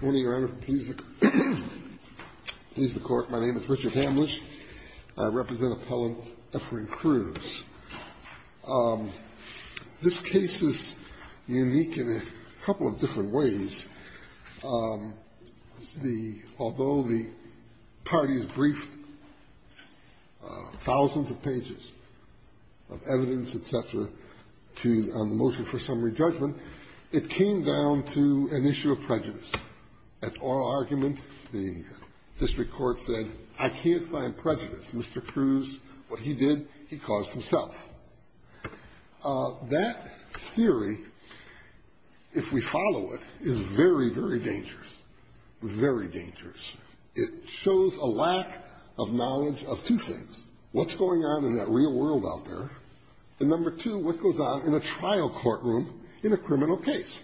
One of your honor, please the court. My name is Richard Hamlisch. I represent Appellant Efrain Cruz. This case is unique in a couple of different ways. Although the parties briefed thousands of pages of evidence, et cetera, on the motion for summary judgment, it came down to an issue of prejudice. At oral argument, the district court said, I can't find prejudice. Mr. Cruz, what he did, he caused himself. That theory, if we follow it, is very, very dangerous. Very dangerous. It shows a lack of knowledge of two things. What's going on in that real world out there? And number two, what goes on in a trial courtroom in a criminal case?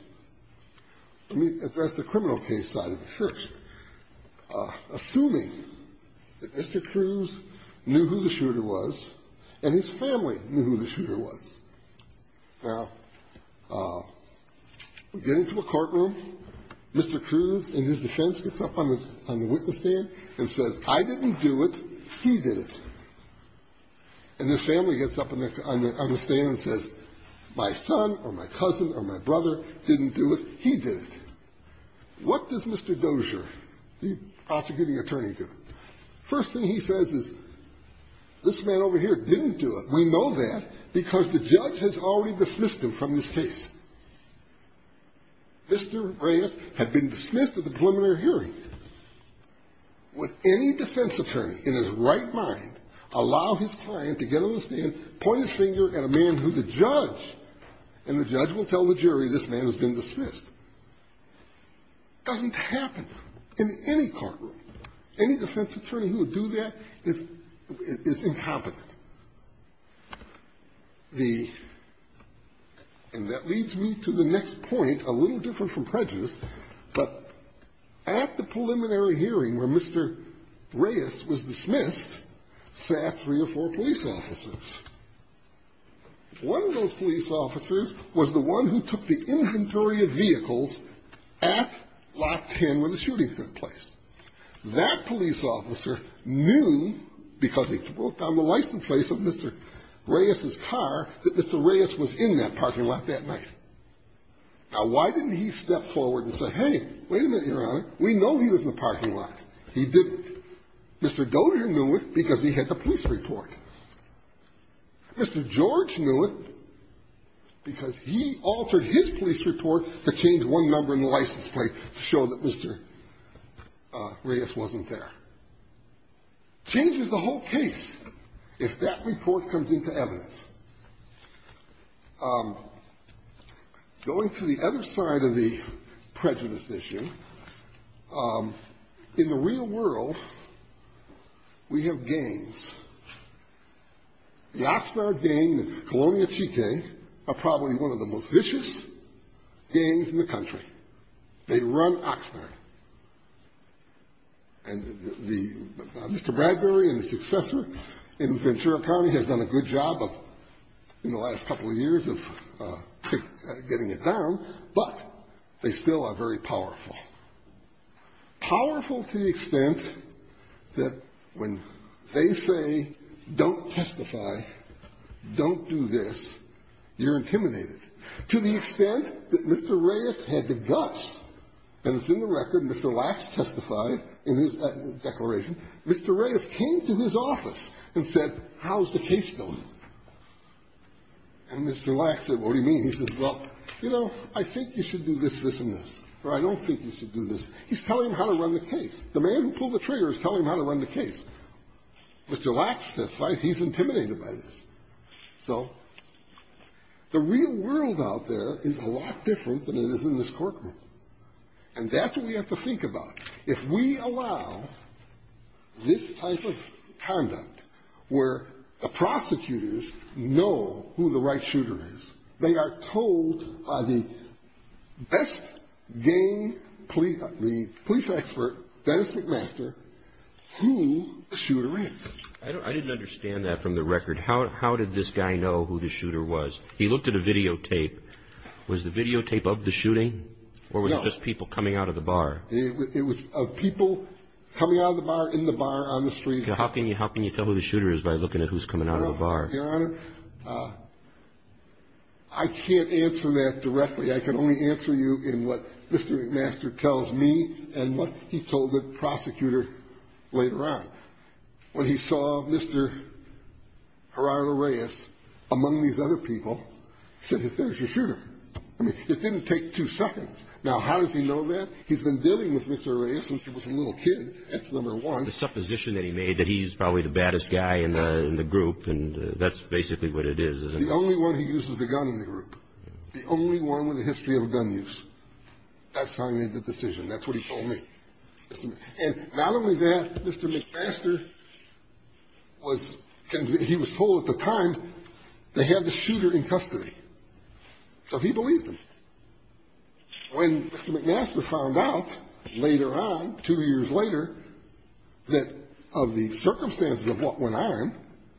Let me address the criminal case side of it first. Assuming that Mr. Cruz knew who the shooter was and his family knew who the shooter was. Now, we get into a courtroom. Mr. Cruz, in his defense, gets up on the witness stand and says, I didn't do it. He did it. And his family gets up on the stand and says, my son or my cousin or my brother didn't do it. He did it. What does Mr. Dozier, the prosecuting attorney, do? First thing he says is, this man over here didn't do it. We know that because the judge has already dismissed him from this case. Mr. Reyes had been dismissed at the preliminary hearing. Would any defense attorney in his right mind allow his client to get on the stand, point his finger at a man who's a judge, and the judge will tell the jury this man has been dismissed? Doesn't happen in any courtroom. Any defense attorney who would do that is incompetent. The – and that leads me to the next point, a little different from prejudice, but at the preliminary hearing where Mr. Reyes was dismissed sat three or four police officers. One of those police officers was the one who took the inventory of vehicles at Lot 10 where the shooting took place. That police officer knew, because he wrote down the license plate of Mr. Reyes's car, that Mr. Reyes was in that parking lot that night. Now, why didn't he step forward and say, hey, wait a minute, Your Honor, we know he was in the parking lot. He didn't. Mr. Goeder knew it because he had the police report. Mr. George knew it because he altered his police report to change one number in the license plate to show that Mr. Reyes wasn't there. Changes the whole case if that report comes into evidence. Going to the other side of the prejudice issue, in the real world, we have gangs. The Oxnard gang, the Colonia Chique, are probably one of the most vicious gangs in the country. They run Oxnard. And the – Mr. Bradbury and his successor in Ventura County has done a good job of in the last couple of years of getting it down, but they still are very powerful. Powerful to the extent that when they say, don't testify, don't do this, you're intimidated. To the extent that Mr. Reyes had the guts, and it's in the record, Mr. Lacks testified in his declaration, Mr. Reyes came to his office and said, how's the case going? And Mr. Lacks said, what do you mean? He says, well, you know, I think you should do this, this, and this. Or I don't think you should do this. He's telling him how to run the case. The man who pulled the trigger is telling him how to run the case. Mr. Lacks testified he's intimidated by this. So the real world out there is a lot different than it is in this courtroom. And that's what we have to think about. If we allow this type of conduct where the prosecutors know who the right shooter is, they are told by the best gang police expert, Dennis McMaster, who the shooter is. I didn't understand that from the record. How did this guy know who the shooter was? He looked at a videotape. Was the videotape of the shooting, or was it just people coming out of the bar? It was of people coming out of the bar, in the bar, on the street. How can you tell who the shooter is by looking at who's coming out of the bar? Your Honor, I can't answer that directly. I can only answer you in what Mr. McMaster tells me and what he told the prosecutor later on. When he saw Mr. Gerardo Reyes, among these other people, he said, there's your shooter. I mean, it didn't take two seconds. Now, how does he know that? He's been dealing with Mr. Reyes since he was a little kid. That's number one. The supposition that he made that he's probably the baddest guy in the group, and that's basically what it is, isn't it? The only one who uses a gun in the group. The only one with a history of gun use. That's how he made the decision. That's what he told me. And not only that, Mr. McMaster was told at the time they had the shooter in custody. So he believed them. When Mr. McMaster found out later on, two years later, that of the circumstances of what went on,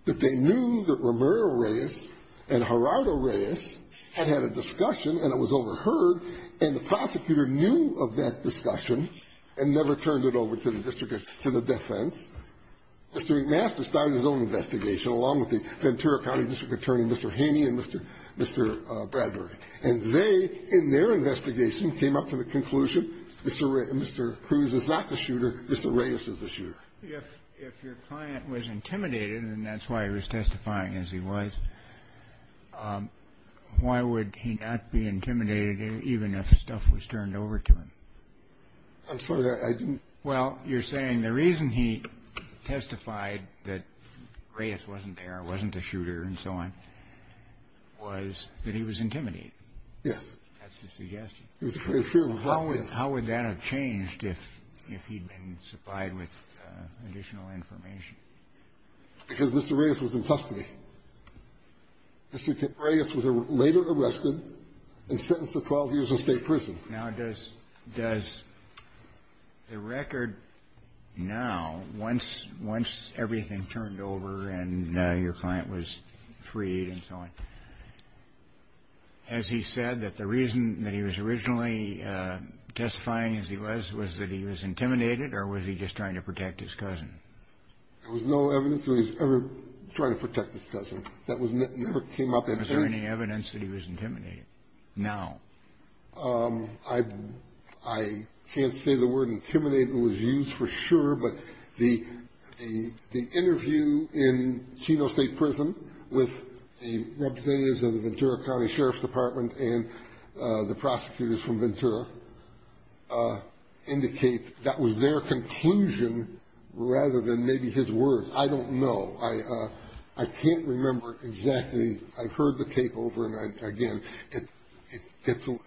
that they knew that Romero Reyes and Gerardo Reyes had had a discussion and it was overheard, and the prosecutor knew of that discussion and never turned it over to the district, to the defense, Mr. McMaster started his own investigation, along with the Ventura County District Attorney, Mr. Haney, and Mr. Bradbury. And they, in their investigation, came up to the conclusion, Mr. Cruz is not the shooter, Mr. Reyes is the shooter. If your client was intimidated, and that's why he was testifying as he was, why would he not be intimidated even if stuff was turned over to him? I'm sorry, I didn't. Well, you're saying the reason he testified that Reyes wasn't there, wasn't the shooter, and so on, was that he was intimidated. Yes. That's the suggestion. He was afraid of what happened. How would that have changed if he'd been supplied with additional information? Because Mr. Reyes was in custody. Mr. Reyes was later arrested and sentenced to 12 years in state prison. Now, does the record now, once everything turned over and your client was freed and so on, has he said that the reason that he was originally testifying as he was, was that he was intimidated or was he just trying to protect his cousin? There was no evidence that he was ever trying to protect his cousin. That never came up. Was there any evidence that he was intimidated now? I can't say the word intimidated was used for sure, but the interview in Chino State Prison with the representatives of the Ventura County Sheriff's Department and the prosecutors from Ventura indicate that was their conclusion rather than maybe his words. I don't know. I can't remember exactly. I've heard the takeover, and, again, if you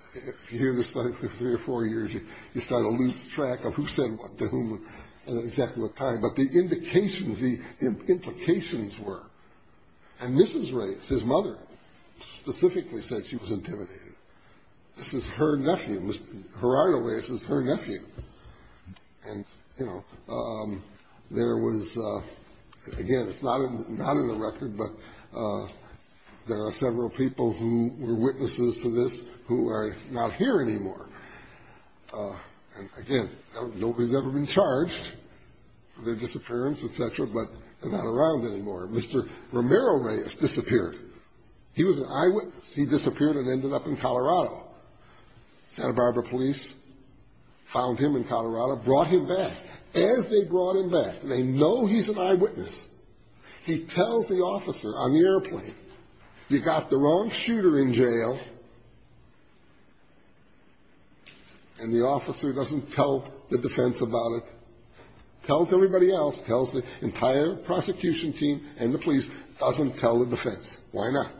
hear this for three or four years, you start to lose track of who said what to whom at exactly the time. But the indications, the implications were. And Mrs. Reyes, his mother, specifically said she was intimidated. This is her nephew. Mr. Gerardo Reyes is her nephew. And, you know, there was, again, it's not in the record, but there are several people who were witnesses to this who are not here anymore. And, again, nobody's ever been charged for their disappearance, et cetera, but they're not around anymore. Mr. Romero Reyes disappeared. He was an eyewitness. He disappeared and ended up in Colorado. Santa Barbara police found him in Colorado, brought him back. As they brought him back, they know he's an eyewitness. He tells the officer on the airplane, you got the wrong shooter in jail, and the officer doesn't tell the defense about it, tells everybody else, tells the entire prosecution team, and the police, doesn't tell the defense. Why not?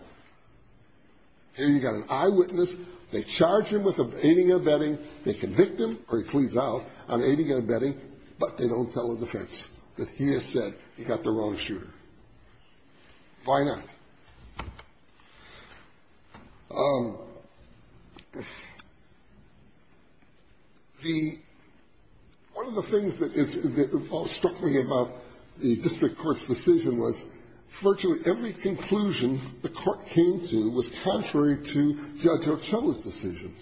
Here you've got an eyewitness. They charge him with aiding and abetting. They convict him, or he pleads out on aiding and abetting, but they don't tell the defense that he has said he got the wrong shooter. Why not? One of the things that struck me about the district court's decision was that virtually every conclusion the court came to was contrary to Judge Ochoa's decisions.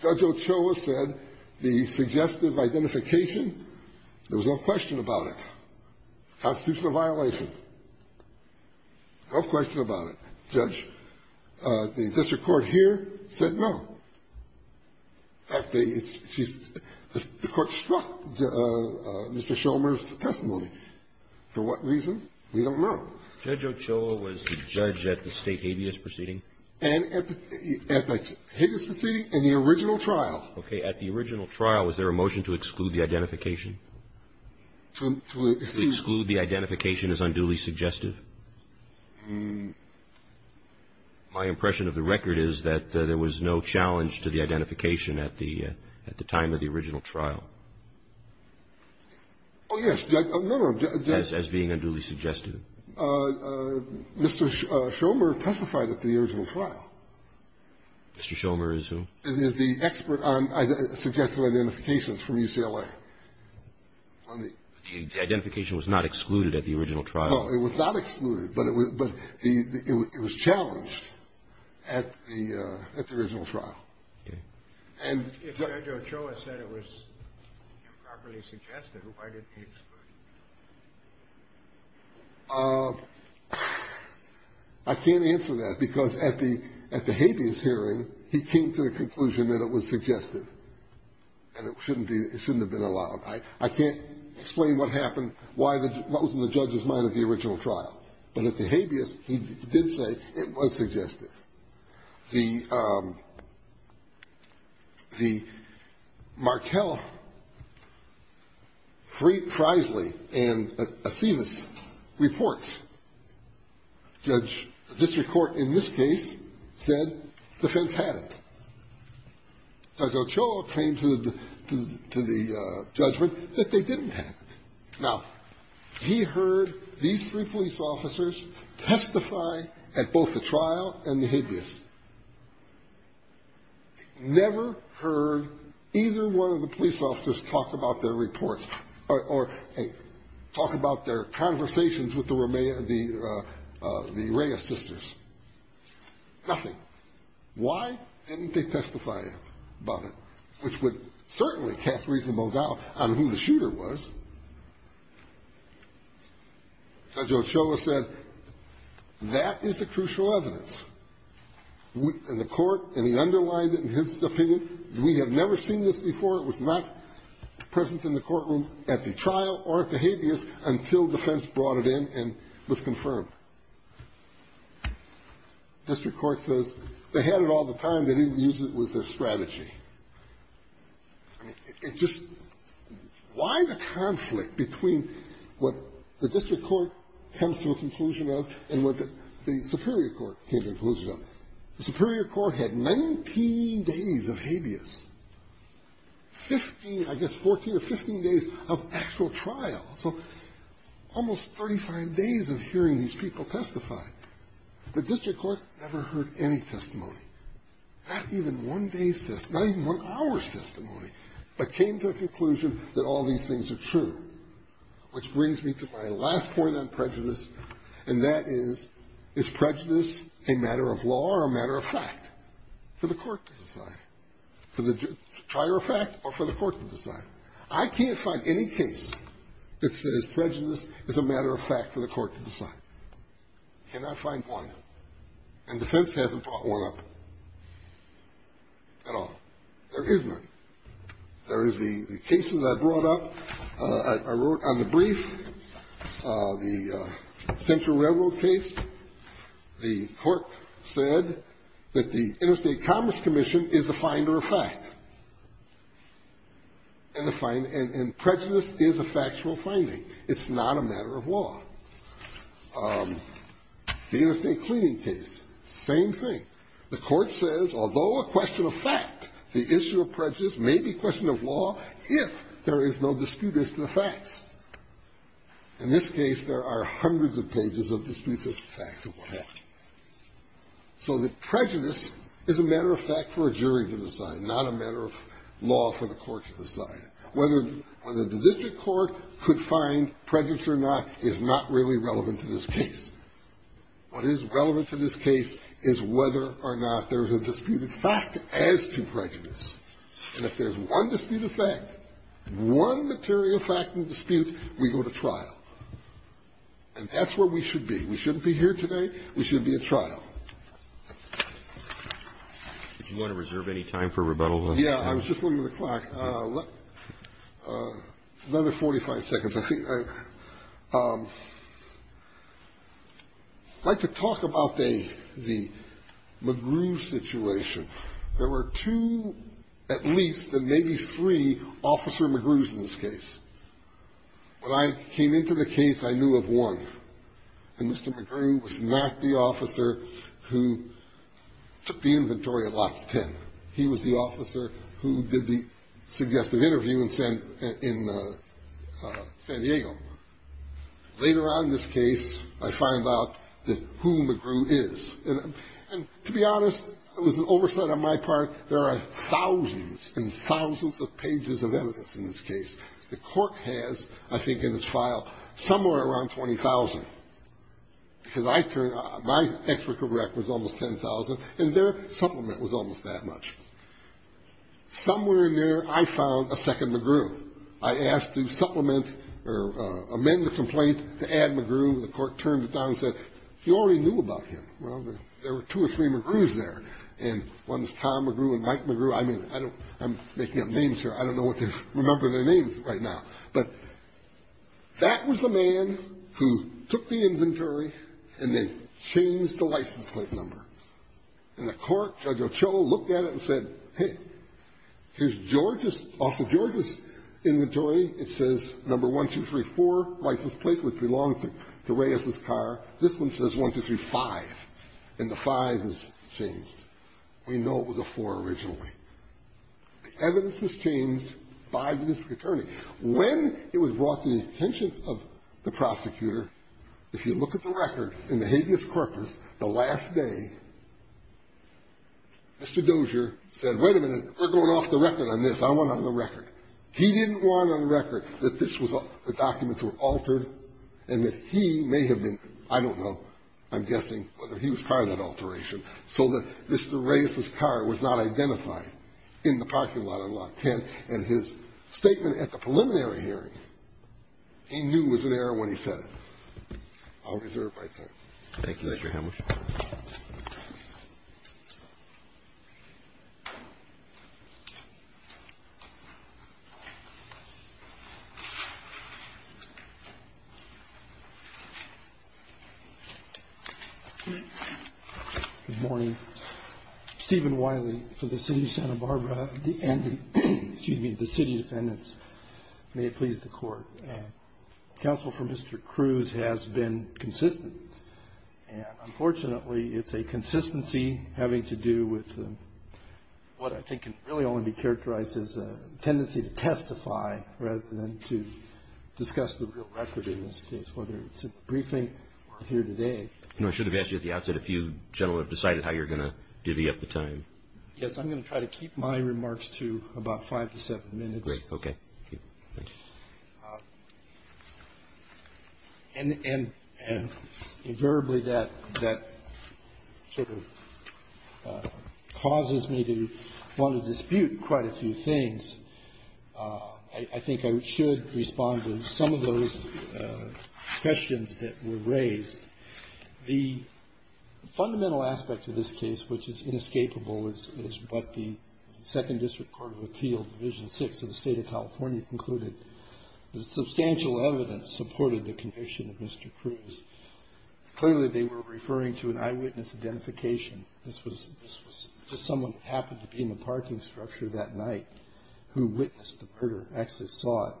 Judge Ochoa said the suggestive identification, there was no question about it, constitutional violation, no question about it. Judge, the district court here said no. The court struck Mr. Schomer's testimony. For what reason? We don't know. Judge Ochoa was the judge at the state habeas proceeding? At the habeas proceeding and the original trial. Okay. At the original trial, was there a motion to exclude the identification? To exclude the identification is unduly suggestive? My impression of the record is that there was no challenge to the identification at the time of the original trial. Oh, yes. No, no. As being unduly suggestive. Mr. Schomer testified at the original trial. Mr. Schomer is who? Is the expert on suggestive identifications from UCLA. The identification was not excluded at the original trial. No, it was not excluded, but it was challenged at the original trial. Okay. If Judge Ochoa said it was improperly suggested, why didn't he exclude it? I can't answer that, because at the habeas hearing, he came to the conclusion that it was suggestive, and it shouldn't have been allowed. I can't explain what happened, what was in the judge's mind at the original trial. But at the habeas, he did say it was suggestive. The Markell, Freisley, and Aceves reports, judge, district court in this case, said defense had it. Judge Ochoa came to the judgment that they didn't have it. Now, he heard these three police officers testify at both the trial and the habeas, never heard either one of the police officers talk about their reports or talk about their conversations with the Reyes sisters, nothing. Why didn't they testify about it? Which would certainly cast reasonable doubt on who the shooter was. Judge Ochoa said that is the crucial evidence. And the court, and he underlined it in his opinion, we have never seen this before. It was not present in the courtroom at the trial or at the habeas until defense brought it in and was confirmed. District court says they had it all the time. They didn't use it with their strategy. It just why the conflict between what the district court comes to a conclusion of and what the superior court came to a conclusion of? The superior court had 19 days of habeas, 15, I guess, 14 or 15 days of actual trial. So almost 35 days of hearing these people testify. The district court never heard any testimony, not even one day's testimony, not even one hour's testimony, but came to a conclusion that all these things are true. Which brings me to my last point on prejudice, and that is, is prejudice a matter of law or a matter of fact for the court to decide, I can't find any case that says prejudice is a matter of fact for the court to decide. Cannot find one. And defense hasn't brought one up at all. There is none. There is the cases I brought up. I wrote on the brief the Central Railroad case. The court said that the Interstate Commerce Commission is the finder of fact. And prejudice is a factual finding. It's not a matter of law. The Interstate Cleaning case, same thing. The court says, although a question of fact, the issue of prejudice may be a question of law if there is no dispute as to the facts. In this case, there are hundreds of pages of disputes as to the facts of the law. So the prejudice is a matter of fact for a jury to decide, not a matter of law for the court to decide. Whether the district court could find prejudice or not is not really relevant to this case. What is relevant to this case is whether or not there is a dispute of fact as to prejudice. And if there's one dispute of fact, one material fact and dispute, we go to trial. And that's where we should be. We shouldn't be here today. We should be at trial. Do you want to reserve any time for rebuttal? Yeah, I was just looking at the clock. Another 45 seconds. I think I'd like to talk about the McGrew situation. There were two, at least, and maybe three, Officer McGrews in this case. When I came into the case, I knew of one. And Mr. McGrew was not the officer who took the inventory of Lots 10. He was the officer who did the suggestive interview in San Diego. Later on in this case, I find out who McGrew is. And to be honest, it was an oversight on my part. There are thousands and thousands of pages of evidence in this case. The court has, I think in its file, somewhere around 20,000. Because I turned my expert correct was almost 10,000. And their supplement was almost that much. Somewhere in there, I found a second McGrew. I asked to supplement or amend the complaint to add McGrew. The court turned it down and said, you already knew about him. Well, there were two or three McGrews there. And one is Tom McGrew and Mike McGrew. I mean, I'm making up names here. I don't know if they remember their names right now. But that was the man who took the inventory and then changed the license plate number. And the court, Judge Ochoa, looked at it and said, hey, here's George's. Off of George's inventory, it says number 1234, license plate, which belonged to Reyes's car. This one says 1235. And the 5 is changed. We know it was a 4 originally. The evidence was changed by the district attorney. When it was brought to the attention of the prosecutor, if you look at the record in the habeas corpus, the last day, Mr. Dozier said, wait a minute. We're going off the record on this. I want it on the record. He didn't want it on the record that this was the documents were altered and that he may have been, I don't know, I'm guessing, whether he was part of that alteration, so that Mr. Reyes's car was not identified in the parking lot on Lot 10. And his statement at the preliminary hearing, he knew was an error when he said it. I'll reserve my time. Thank you, Mr. Hamilton. Good morning. Stephen Wiley for the city of Santa Barbara and the city defendants. Counsel for Mr. Cruz has been consistent, and unfortunately, it's a consistency having to do with what I think can really only be characterized as a tendency to testify rather than to discuss the real record in this case, whether it's a briefing or here today. You know, I should have asked you at the outset if you gentlemen have decided how you're going to divvy up the time. Yes, I'm going to try to keep my remarks to about five to seven minutes. Oh, great. Okay. And invariably that sort of causes me to want to dispute quite a few things. I think I should respond to some of those questions that were raised. The fundamental aspect to this case, which is inescapable, is what the Second District Court of Appeal, Division VI of the State of California concluded. The substantial evidence supported the conviction of Mr. Cruz. Clearly, they were referring to an eyewitness identification. This was just someone who happened to be in the parking structure that night who witnessed the murder, actually saw it.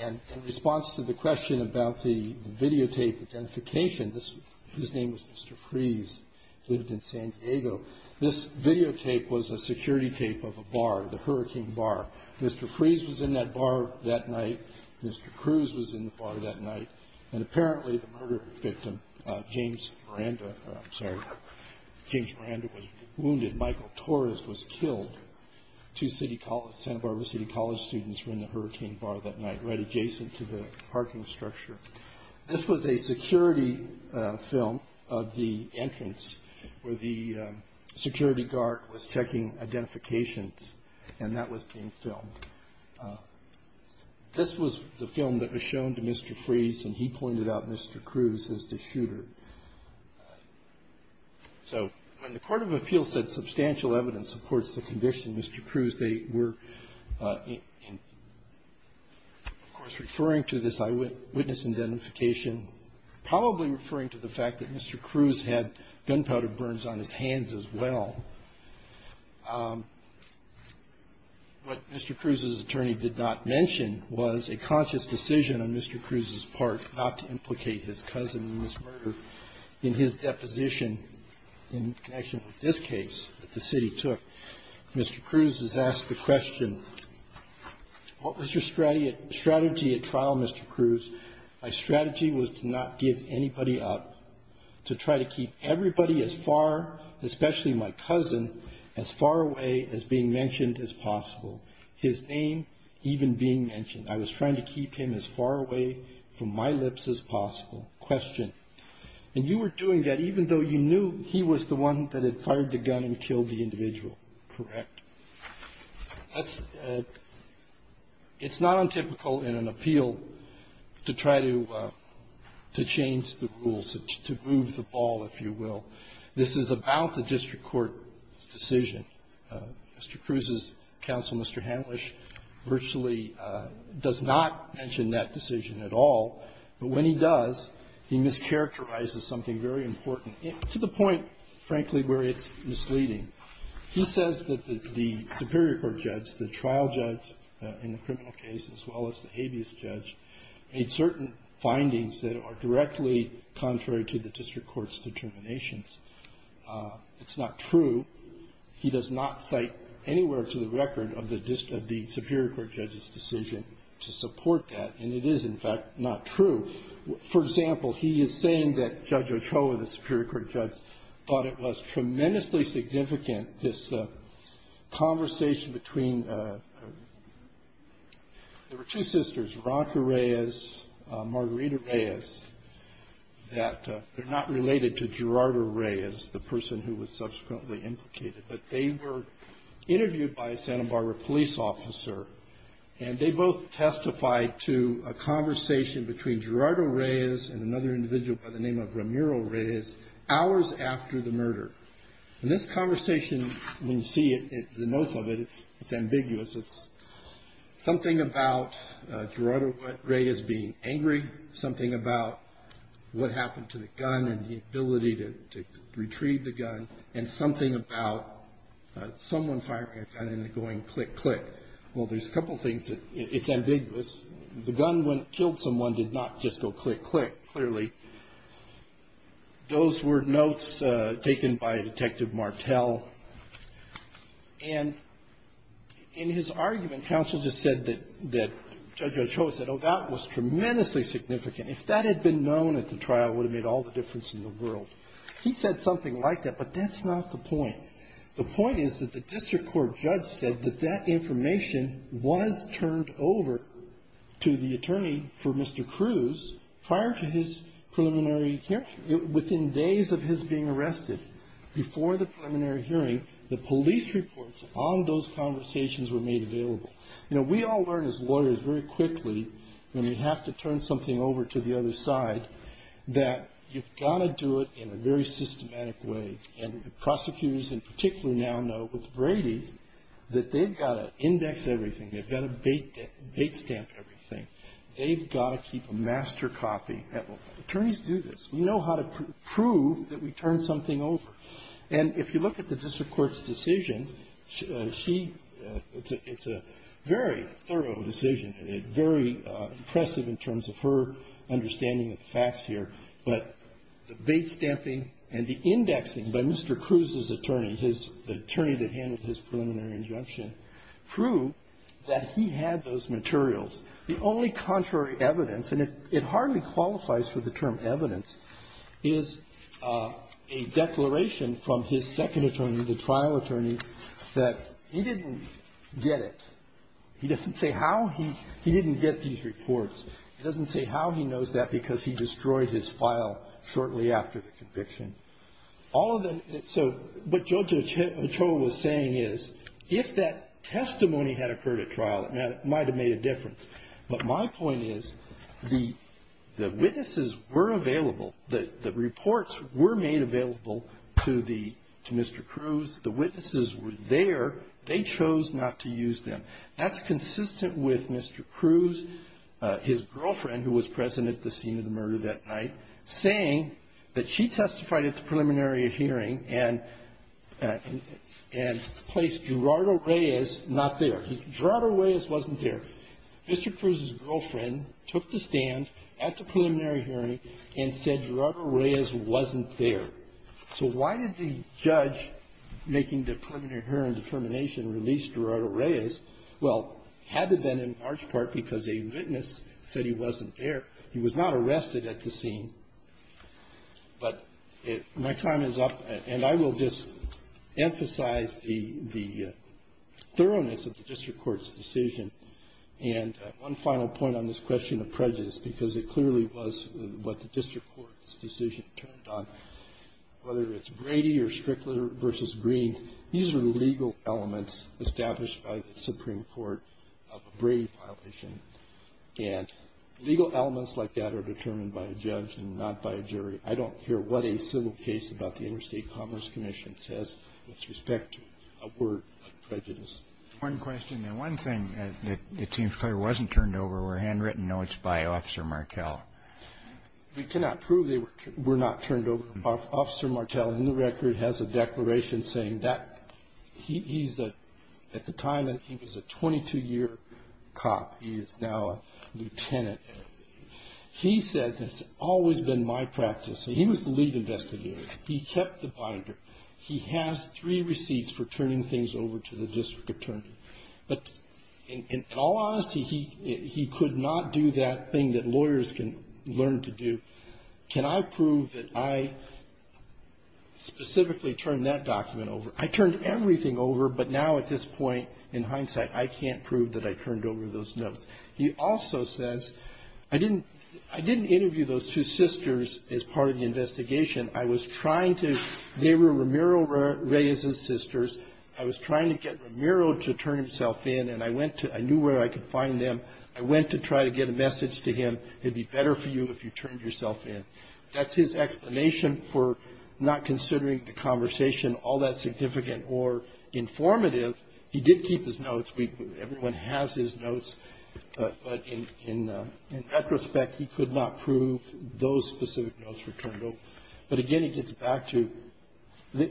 And in response to the question about the videotape identification, his name was Mr. Freeze, lived in San Diego. This videotape was a security tape of a bar, the Hurricane Bar. Mr. Freeze was in that bar that night. Mr. Cruz was in the bar that night. And apparently the murder victim, James Miranda, I'm sorry, James Miranda was wounded. Michael Torres was killed. Two Santa Barbara City College students were in the Hurricane Bar that night, right adjacent to the parking structure. This was a security film of the entrance where the security guard was checking identifications, and that was being filmed. This was the film that was shown to Mr. Freeze, and he pointed out Mr. Cruz as the shooter. So when the Court of Appeal said substantial evidence supports the conviction of Mr. Cruz, they were, of course, referring to this eyewitness identification probably referring to the fact that Mr. Cruz had gunpowder burns on his hands as well. What Mr. Cruz's attorney did not mention was a conscious decision on Mr. Cruz's part not to implicate his cousin in this murder in his deposition in connection with this case that the city took. Mr. Cruz is asked the question, what was your strategy at trial, Mr. Cruz? My strategy was to not give anybody up, to try to keep everybody as far, especially my cousin, as far away as being mentioned as possible, his name even being mentioned. I was trying to keep him as far away from my lips as possible. Question. And you were doing that even though you knew he was the one that had fired the gun and killed the individual. Correct. It's not untypical in an appeal to try to change the rules, to move the ball, if you will. This is about the district court's decision. Mr. Cruz's counsel, Mr. Hanlisch, virtually does not mention that decision at all, but when he does, he mischaracterizes something very important to the point, frankly, where it's misleading. He says that the superior court judge, the trial judge in the criminal case, as well as the habeas judge, made certain findings that are directly contrary to the district court's determinations. It's not true. He does not cite anywhere to the record of the superior court judge's decision to support that, and it is, in fact, not true. For example, he is saying that Judge Ochoa, the superior court judge, thought it was significant, this conversation between, there were two sisters, Ronca Reyes, Margarita Reyes, that they're not related to Gerardo Reyes, the person who was subsequently implicated, but they were interviewed by a Santa Barbara police officer, and they both testified to a conversation between Gerardo Reyes and another individual by the name of Ramiro Reyes hours after the murder. And this conversation, when you see it, the notes of it, it's ambiguous. It's something about Gerardo Reyes being angry, something about what happened to the gun and the ability to retrieve the gun, and something about someone firing a gun and it going click, click. Well, there's a couple things that, it's ambiguous. The gun, when it killed someone, did not just go click, click, clearly. Those were notes taken by Detective Martel. And in his argument, counsel just said that Judge Ochoa said, oh, that was tremendously significant. If that had been known at the trial, it would have made all the difference in the world. He said something like that, but that's not the point. The point is that the district court judge said that that information was turned over to the attorney for Mr. Cruz prior to his preliminary hearing. Within days of his being arrested, before the preliminary hearing, the police reports on those conversations were made available. You know, we all learn as lawyers very quickly when we have to turn something over to the other side that you've got to do it in a very systematic way. And prosecutors in particular now know with Brady that they've got to index everything. They've got to bait stamp everything. They've got to keep a master copy. Attorneys do this. We know how to prove that we turned something over. And if you look at the district court's decision, she – it's a very thorough decision, very impressive in terms of her understanding of the facts here. But the bait stamping and the indexing by Mr. Cruz's attorney, his – the attorney that handled his preliminary injunction, proved that he had those materials. The only contrary evidence, and it hardly qualifies for the term evidence, is a declaration from his second attorney, the trial attorney, that he didn't get it. He doesn't say how he – he didn't get these reports. He doesn't say how he knows that because he destroyed his file shortly after the conviction. All of the – so what Judge Ochoa was saying is if that testimony had occurred at trial, it might have made a difference. But my point is the witnesses were available. The reports were made available to the – to Mr. Cruz. The witnesses were there. They chose not to use them. That's consistent with Mr. Cruz, his girlfriend who was present at the scene of the murder that night, saying that she testified at the preliminary hearing and – and placed Gerardo Reyes not there. Gerardo Reyes wasn't there. Mr. Cruz's girlfriend took the stand at the preliminary hearing and said Gerardo Reyes wasn't there. So why did the judge making the preliminary hearing determination release Gerardo Reyes? Well, it had to have been in large part because a witness said he wasn't there. He was not arrested at the scene. But my time is up. And I will just emphasize the – the thoroughness of the district court's decision. And one final point on this question of prejudice, because it clearly was what the district court's decision turned on. Whether it's Brady or Strickler v. Green, these are legal elements established by the Supreme Court of a Brady violation. And legal elements like that are determined by a judge and not by a jury. I don't care what a civil case about the Interstate Commerce Commission says with respect to a word like prejudice. One question. One thing that seems clear wasn't turned over were handwritten notes by Officer Martel. We cannot prove they were not turned over. Officer Martel, in the record, has a declaration saying that he's a – at the time, he was a 22-year cop. He is now a lieutenant. He says it's always been my practice. He was the lead investigator. He kept the binder. He has three receipts for turning things over to the district attorney. But in all honesty, he could not do that thing that lawyers can learn to do. Can I prove that I specifically turned that document over? I turned everything over. But now, at this point, in hindsight, I can't prove that I turned over those notes. He also says, I didn't – I didn't interview those two sisters as part of the investigation. I was trying to – they were Ramiro Reyes's sisters. I was trying to get Ramiro to turn himself in. And I went to – I knew where I could find them. I went to try to get a message to him. It would be better for you if you turned yourself in. That's his explanation for not considering the conversation all that significant or informative. He did keep his notes. We – everyone has his notes. But in retrospect, he could not prove those specific notes were turned over. But, again, he gets back to there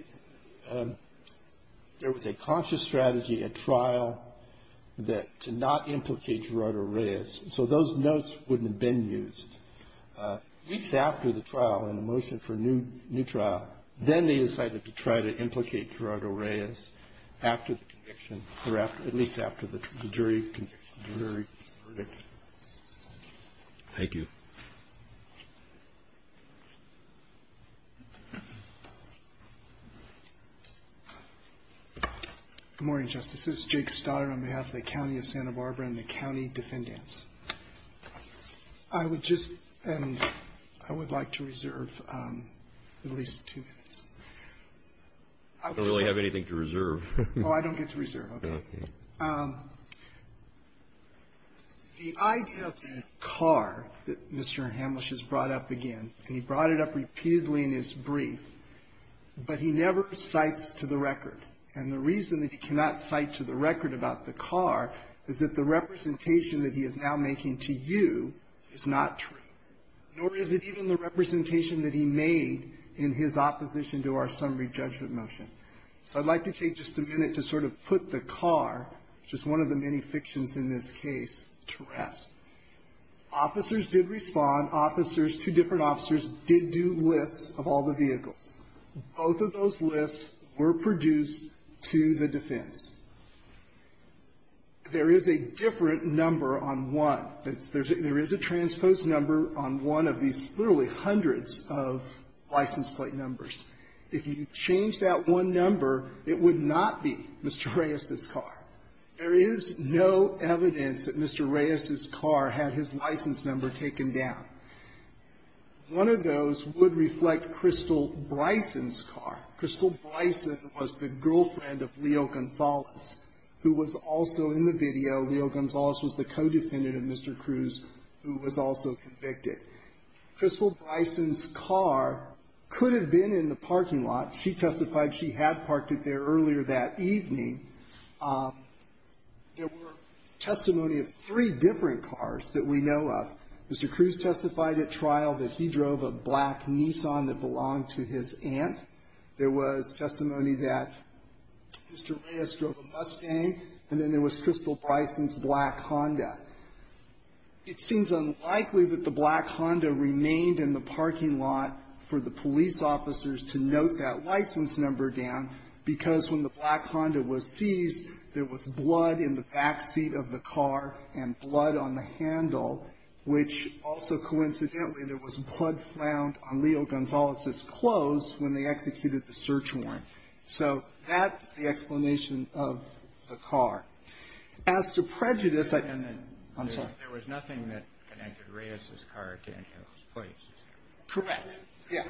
was a conscious strategy at trial that – to not implicate Gerardo Reyes. So those notes wouldn't have been used. Weeks after the trial and the motion for a new trial, then they decided to try to implicate Gerardo Reyes after the conviction, or at least after the jury verdict. Thank you. Good morning, Justices. Jake Stoddard on behalf of the County of Santa Barbara and the county defendants. I would just – and I would like to reserve at least two minutes. I don't really have anything to reserve. Oh, I don't get to reserve. Okay. The idea of the car that Mr. Hamlisch has brought up again, and he brought it up repeatedly in his brief, but he never cites to the record. And the reason that he cannot cite to the record about the car is that the representation that he is now making to you is not true, nor is it even the representation that he made in his opposition to our summary judgment motion. So I'd like to take just a minute to sort of put the car, which is one of the many fictions in this case, to rest. Officers did respond. Officers, two different officers, did do lists of all the vehicles. Both of those lists were produced to the defense. There is a different number on one. There is a transposed number on one of these literally hundreds of license plate numbers. If you change that one number, it would not be Mr. Reyes's car. There is no evidence that Mr. Reyes's car had his license number taken down. One of those would reflect Crystal Bryson's car. Crystal Bryson was the girlfriend of Leo Gonzalez, who was also in the video. Leo Gonzalez was the co-defendant of Mr. Cruz, who was also convicted. Crystal Bryson's car could have been in the parking lot. She testified she had parked it there earlier that evening. There were testimony of three different cars that we know of. Mr. Cruz testified at trial that he drove a black Nissan that belonged to his aunt. There was testimony that Mr. Reyes drove a Mustang. And then there was Crystal Bryson's black Honda. It seems unlikely that the black Honda remained in the parking lot for the police officers to note that license number down, because when the black Honda was seized, there was blood in the back seat of the car and blood on the handle, which also, coincidentally, there was blood found on Leo Gonzalez's clothes when they executed the search warrant. So that's the explanation of the car. As to prejudice, I don't know. I'm sorry. There was nothing that connected Reyes's car to any of those plates. Correct. Yeah.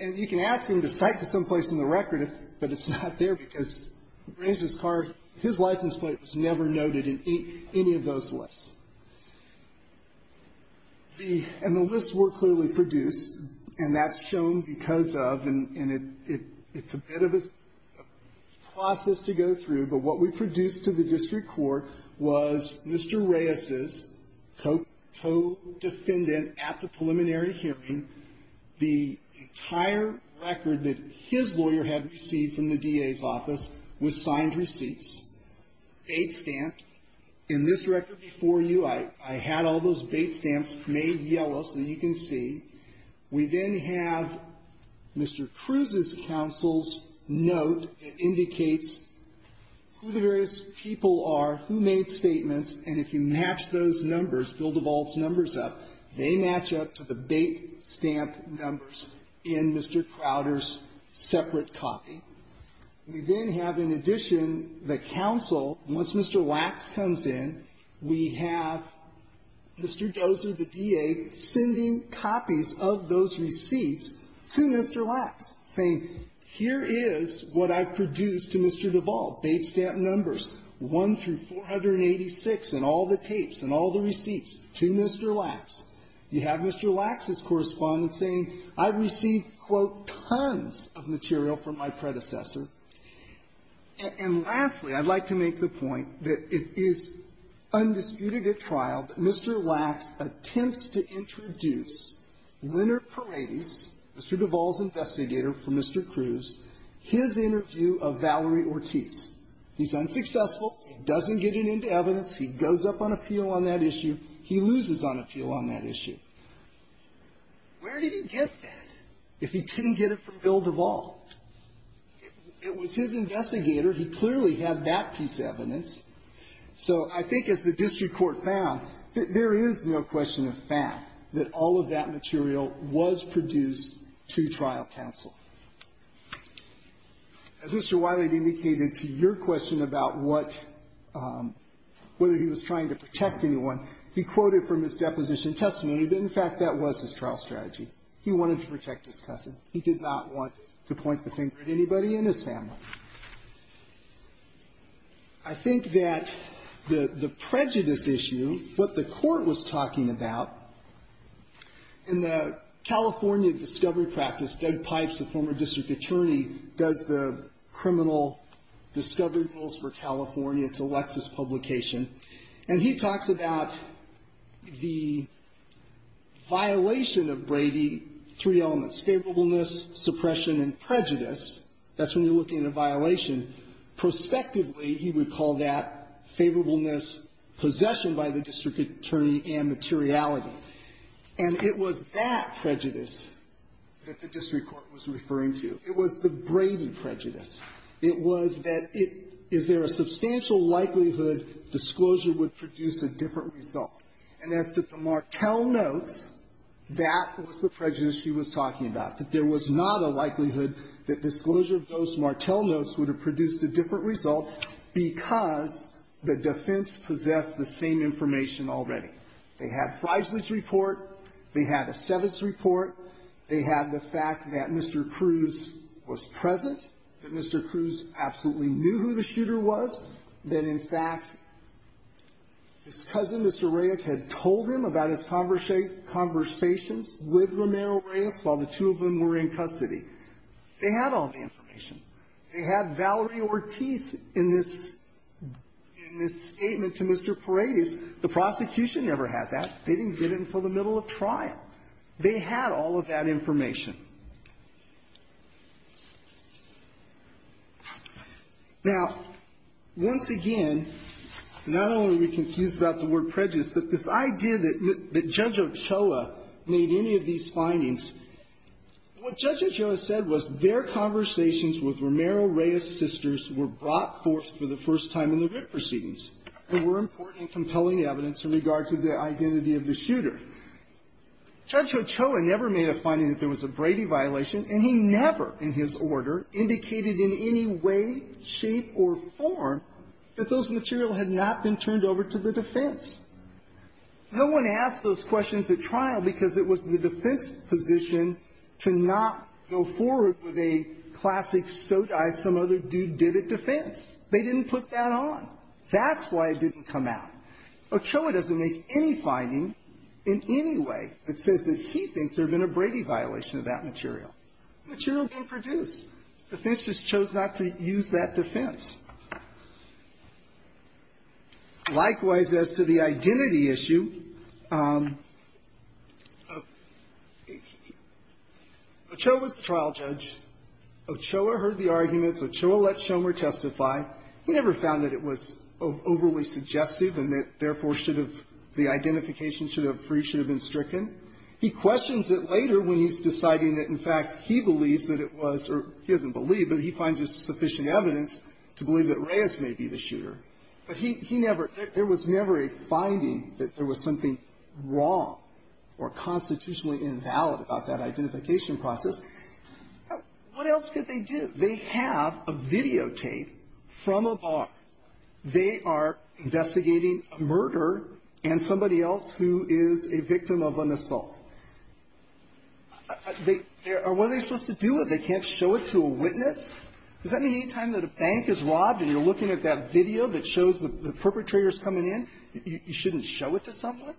And you can ask him to cite to someplace in the record, but it's not there because Reyes's car, his license plate was never noted in any of those lists. And the lists were clearly produced, and that's shown because of, and it's a bit of a process to go through, but what we produced to the district court was Mr. Reyes's co-defendant at the preliminary hearing. The entire record that his lawyer had received from the DA's office was signed receipts. Bait stamped. In this record before you, I had all those bait stamps made yellow so that you can see. We then have Mr. Cruz's counsel's note that indicates who the various people are, who made statements, and if you match those numbers, Bill DeVault's numbers up, they match up to the bait stamp numbers in Mr. Crowder's separate copy. We then have, in addition, the counsel, once Mr. Lacks comes in, we have Mr. Dozer, the DA, sending copies of those receipts to Mr. Lacks, saying, here is what I've produced to Mr. DeVault, bait stamp numbers, 1 through 486, and all the tapes and all the receipts to Mr. Lacks. You have Mr. Lacks's correspondence saying, I've received, quote, tons of material from my predecessor. And lastly, I'd like to make the point that it is undisputed at trial that Mr. Lacks attempts to introduce Leonard Paradis, Mr. DeVault's investigator for Mr. Cruz, his interview of Valerie Ortiz. He's unsuccessful. He doesn't get any evidence. He goes up on appeal on that issue. He loses on appeal on that issue. Where did he get that if he didn't get it from Bill DeVault? It was his investigator. He clearly had that piece of evidence. So I think as the district court found, there is no question of fact that all of that material was produced to trial counsel. As Mr. Wiley indicated to your question about what, whether he was trying to protect anyone, he quoted from his deposition testimony that, in fact, that was his trial strategy. He wanted to protect his cousin. He did not want to point the finger at anybody in his family. I think that the prejudice issue, what the Court was talking about, in the California discovery practice, Doug Pipes, the former district attorney, does the criminal discovery rules for California. It's a Lexis publication. And he talks about the violation of Brady, three elements, favorableness, suppression, and prejudice. That's when you're looking at a violation. Prospectively, he would call that favorableness, possession by the district attorney, and materiality. And it was that prejudice that the district court was referring to. It was the Brady prejudice. It was that it – is there a substantial likelihood disclosure would produce a different result? And as to the Martel notes, that was the prejudice she was talking about, that there was not a likelihood that disclosure of those Martel notes would have produced a different result because the defense possessed the same information already. They had Freisley's report. They had Esteves' report. They had the fact that Mr. Cruz was present, that Mr. Cruz absolutely knew who the shooter was, that, in fact, his cousin, Mr. Reyes, had told him about his conversations with Romero Reyes while the two of them were in custody. They had all the information. They had Valerie Ortiz in this – in this statement to Mr. Paredes. The prosecution never had that. They didn't get it until the middle of trial. They had all of that information. Now, once again, not only are we confused about the word prejudice, but this idea that Judge Ochoa made any of these findings, what Judge Ochoa said was their conversations with Romero Reyes' sisters were brought forth for the first time in the writ proceedings. There were important and compelling evidence in regard to the identity of the shooter. Judge Ochoa never made a finding that there was a Brady violation, and he never, in his order, indicated in any way, shape, or form that those material had not been turned over to the defense. No one asked those questions at trial because it was the defense. They didn't put that on. That's why it didn't come out. Ochoa doesn't make any finding in any way that says that he thinks there had been a Brady violation of that material. The material didn't produce. The defense just chose not to use that defense. Likewise, as to the identity issue, Ochoa was the trial judge. Ochoa heard the arguments. Ochoa let Schomer testify. He never found that it was overly suggestive and that, therefore, should have, the identification should have, should have been stricken. He questions it later when he's deciding that, in fact, he believes that it was, or he doesn't believe, but he finds there's sufficient evidence to believe that Reyes may be the shooter. But he never, there was never a finding that there was something wrong or constitutionally invalid about that identification process. What else could they do? They have a videotape from a bar. They are investigating a murder and somebody else who is a victim of an assault. They, what are they supposed to do with it? They can't show it to a witness? Does that mean any time that a bank is robbed and you're looking at that video that shows the perpetrators coming in, you shouldn't show it to someone?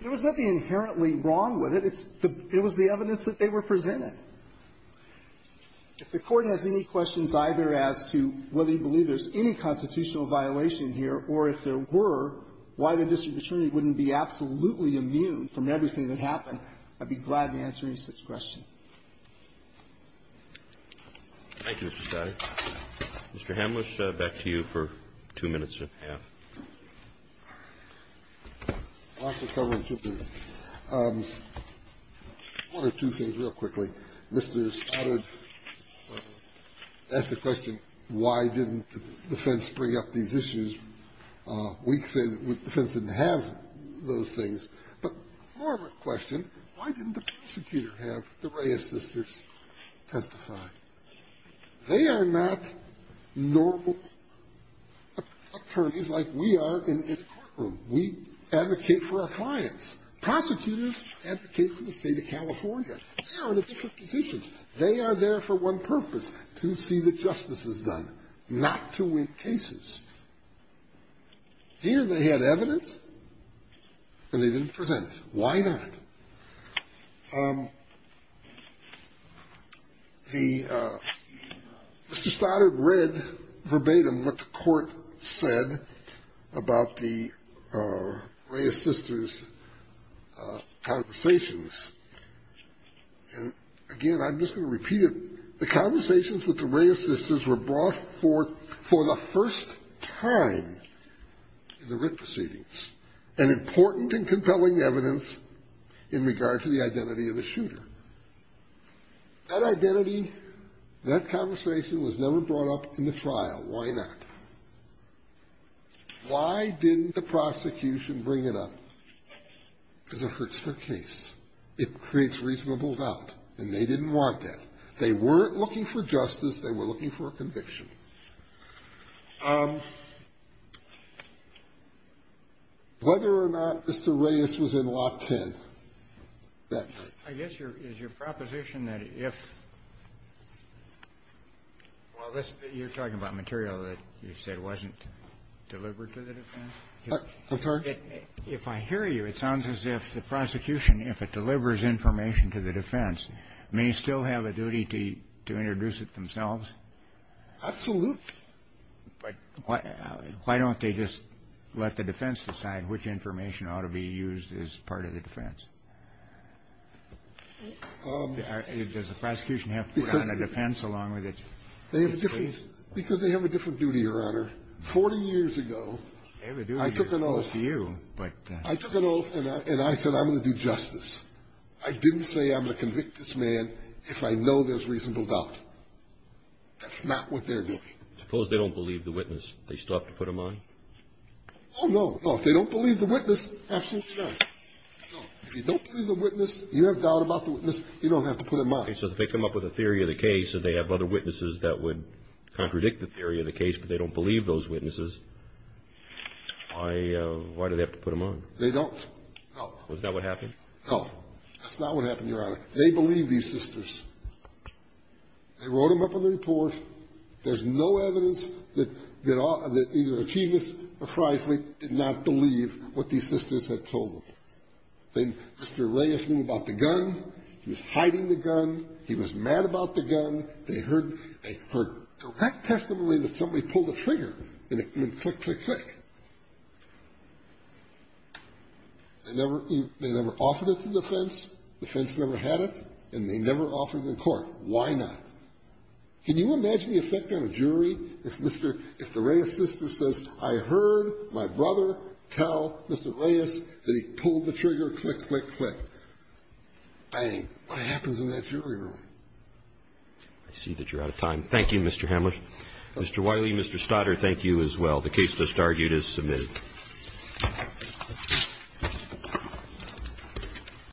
There was nothing inherently wrong with it. It's the, it was the evidence that they were presenting. If the Court has any questions either as to whether you believe there's any constitutional violation here, or if there were, why the district attorney wouldn't be absolutely immune from everything that happened, I'd be glad to answer any such question. Roberts. Mr. Hamlisch, back to you for two minutes and a half. Hamlisch. One or two things real quickly. Mr. Stoddard asked the question, why didn't the defense bring up these issues? We say that the defense didn't have those things. But more of a question, why didn't the prosecutor have the Reyes sisters testify? They are not normal attorneys like we are in the courtroom. We advocate for our clients. Prosecutors advocate for the state of California. They are in a different position. They are there for one purpose, to see that justice is done, not to win cases. Here they had evidence, and they didn't present it. Why not? The Mr. Stoddard read verbatim what the court said about the Reyes sisters' conversations. And, again, I'm just going to repeat it. The conversations with the Reyes sisters were brought forth for the first time in the in regard to the identity of the shooter. That identity, that conversation was never brought up in the trial. Why not? Why didn't the prosecution bring it up? Because it hurts their case. It creates reasonable doubt, and they didn't want that. They were looking for a conviction. Whether or not Mr. Reyes was in Lock 10 that night. I guess your proposition that if you're talking about material that you said wasn't delivered to the defense. I'm sorry? If I hear you, it sounds as if the prosecution, if it delivers information to the defense, may still have a duty to introduce it themselves. Absolutely. But why don't they just let the defense decide which information ought to be used as part of the defense? Does the prosecution have to put on a defense along with its case? Because they have a different duty, Your Honor. Forty years ago, I took an oath, and I said I'm going to do justice. I didn't say I'm going to convict this man if I know there's reasonable doubt. That's not what they're doing. Suppose they don't believe the witness. They still have to put him on? Oh, no. If they don't believe the witness, absolutely not. If you don't believe the witness, you have doubt about the witness, you don't have to put him on. So if they come up with a theory of the case, and they have other witnesses that would contradict the theory of the case, but they don't believe those witnesses, why do they have to put him on? They don't. Is that what happened? No. That's not what happened, Your Honor. They believe these sisters. They wrote them up on the report. There's no evidence that either Achievist or Freislich did not believe what these sisters had told them. Mr. Reyes knew about the gun. He was hiding the gun. He was mad about the gun. They heard direct testimony that somebody pulled a trigger, and it went click, click, click. They never offered it to the defense. The defense never had it, and they never offered it in court. Why not? Can you imagine the effect on a jury if the Reyes sister says, I heard my brother tell Mr. Reyes that he pulled the trigger, click, click, click. Bang. What happens in that jury room? I see that you're out of time. Thank you, Mr. Hamler. Mr. Wiley, Mr. Stoddard, thank you as well. The case thus argued is submitted. Thank you.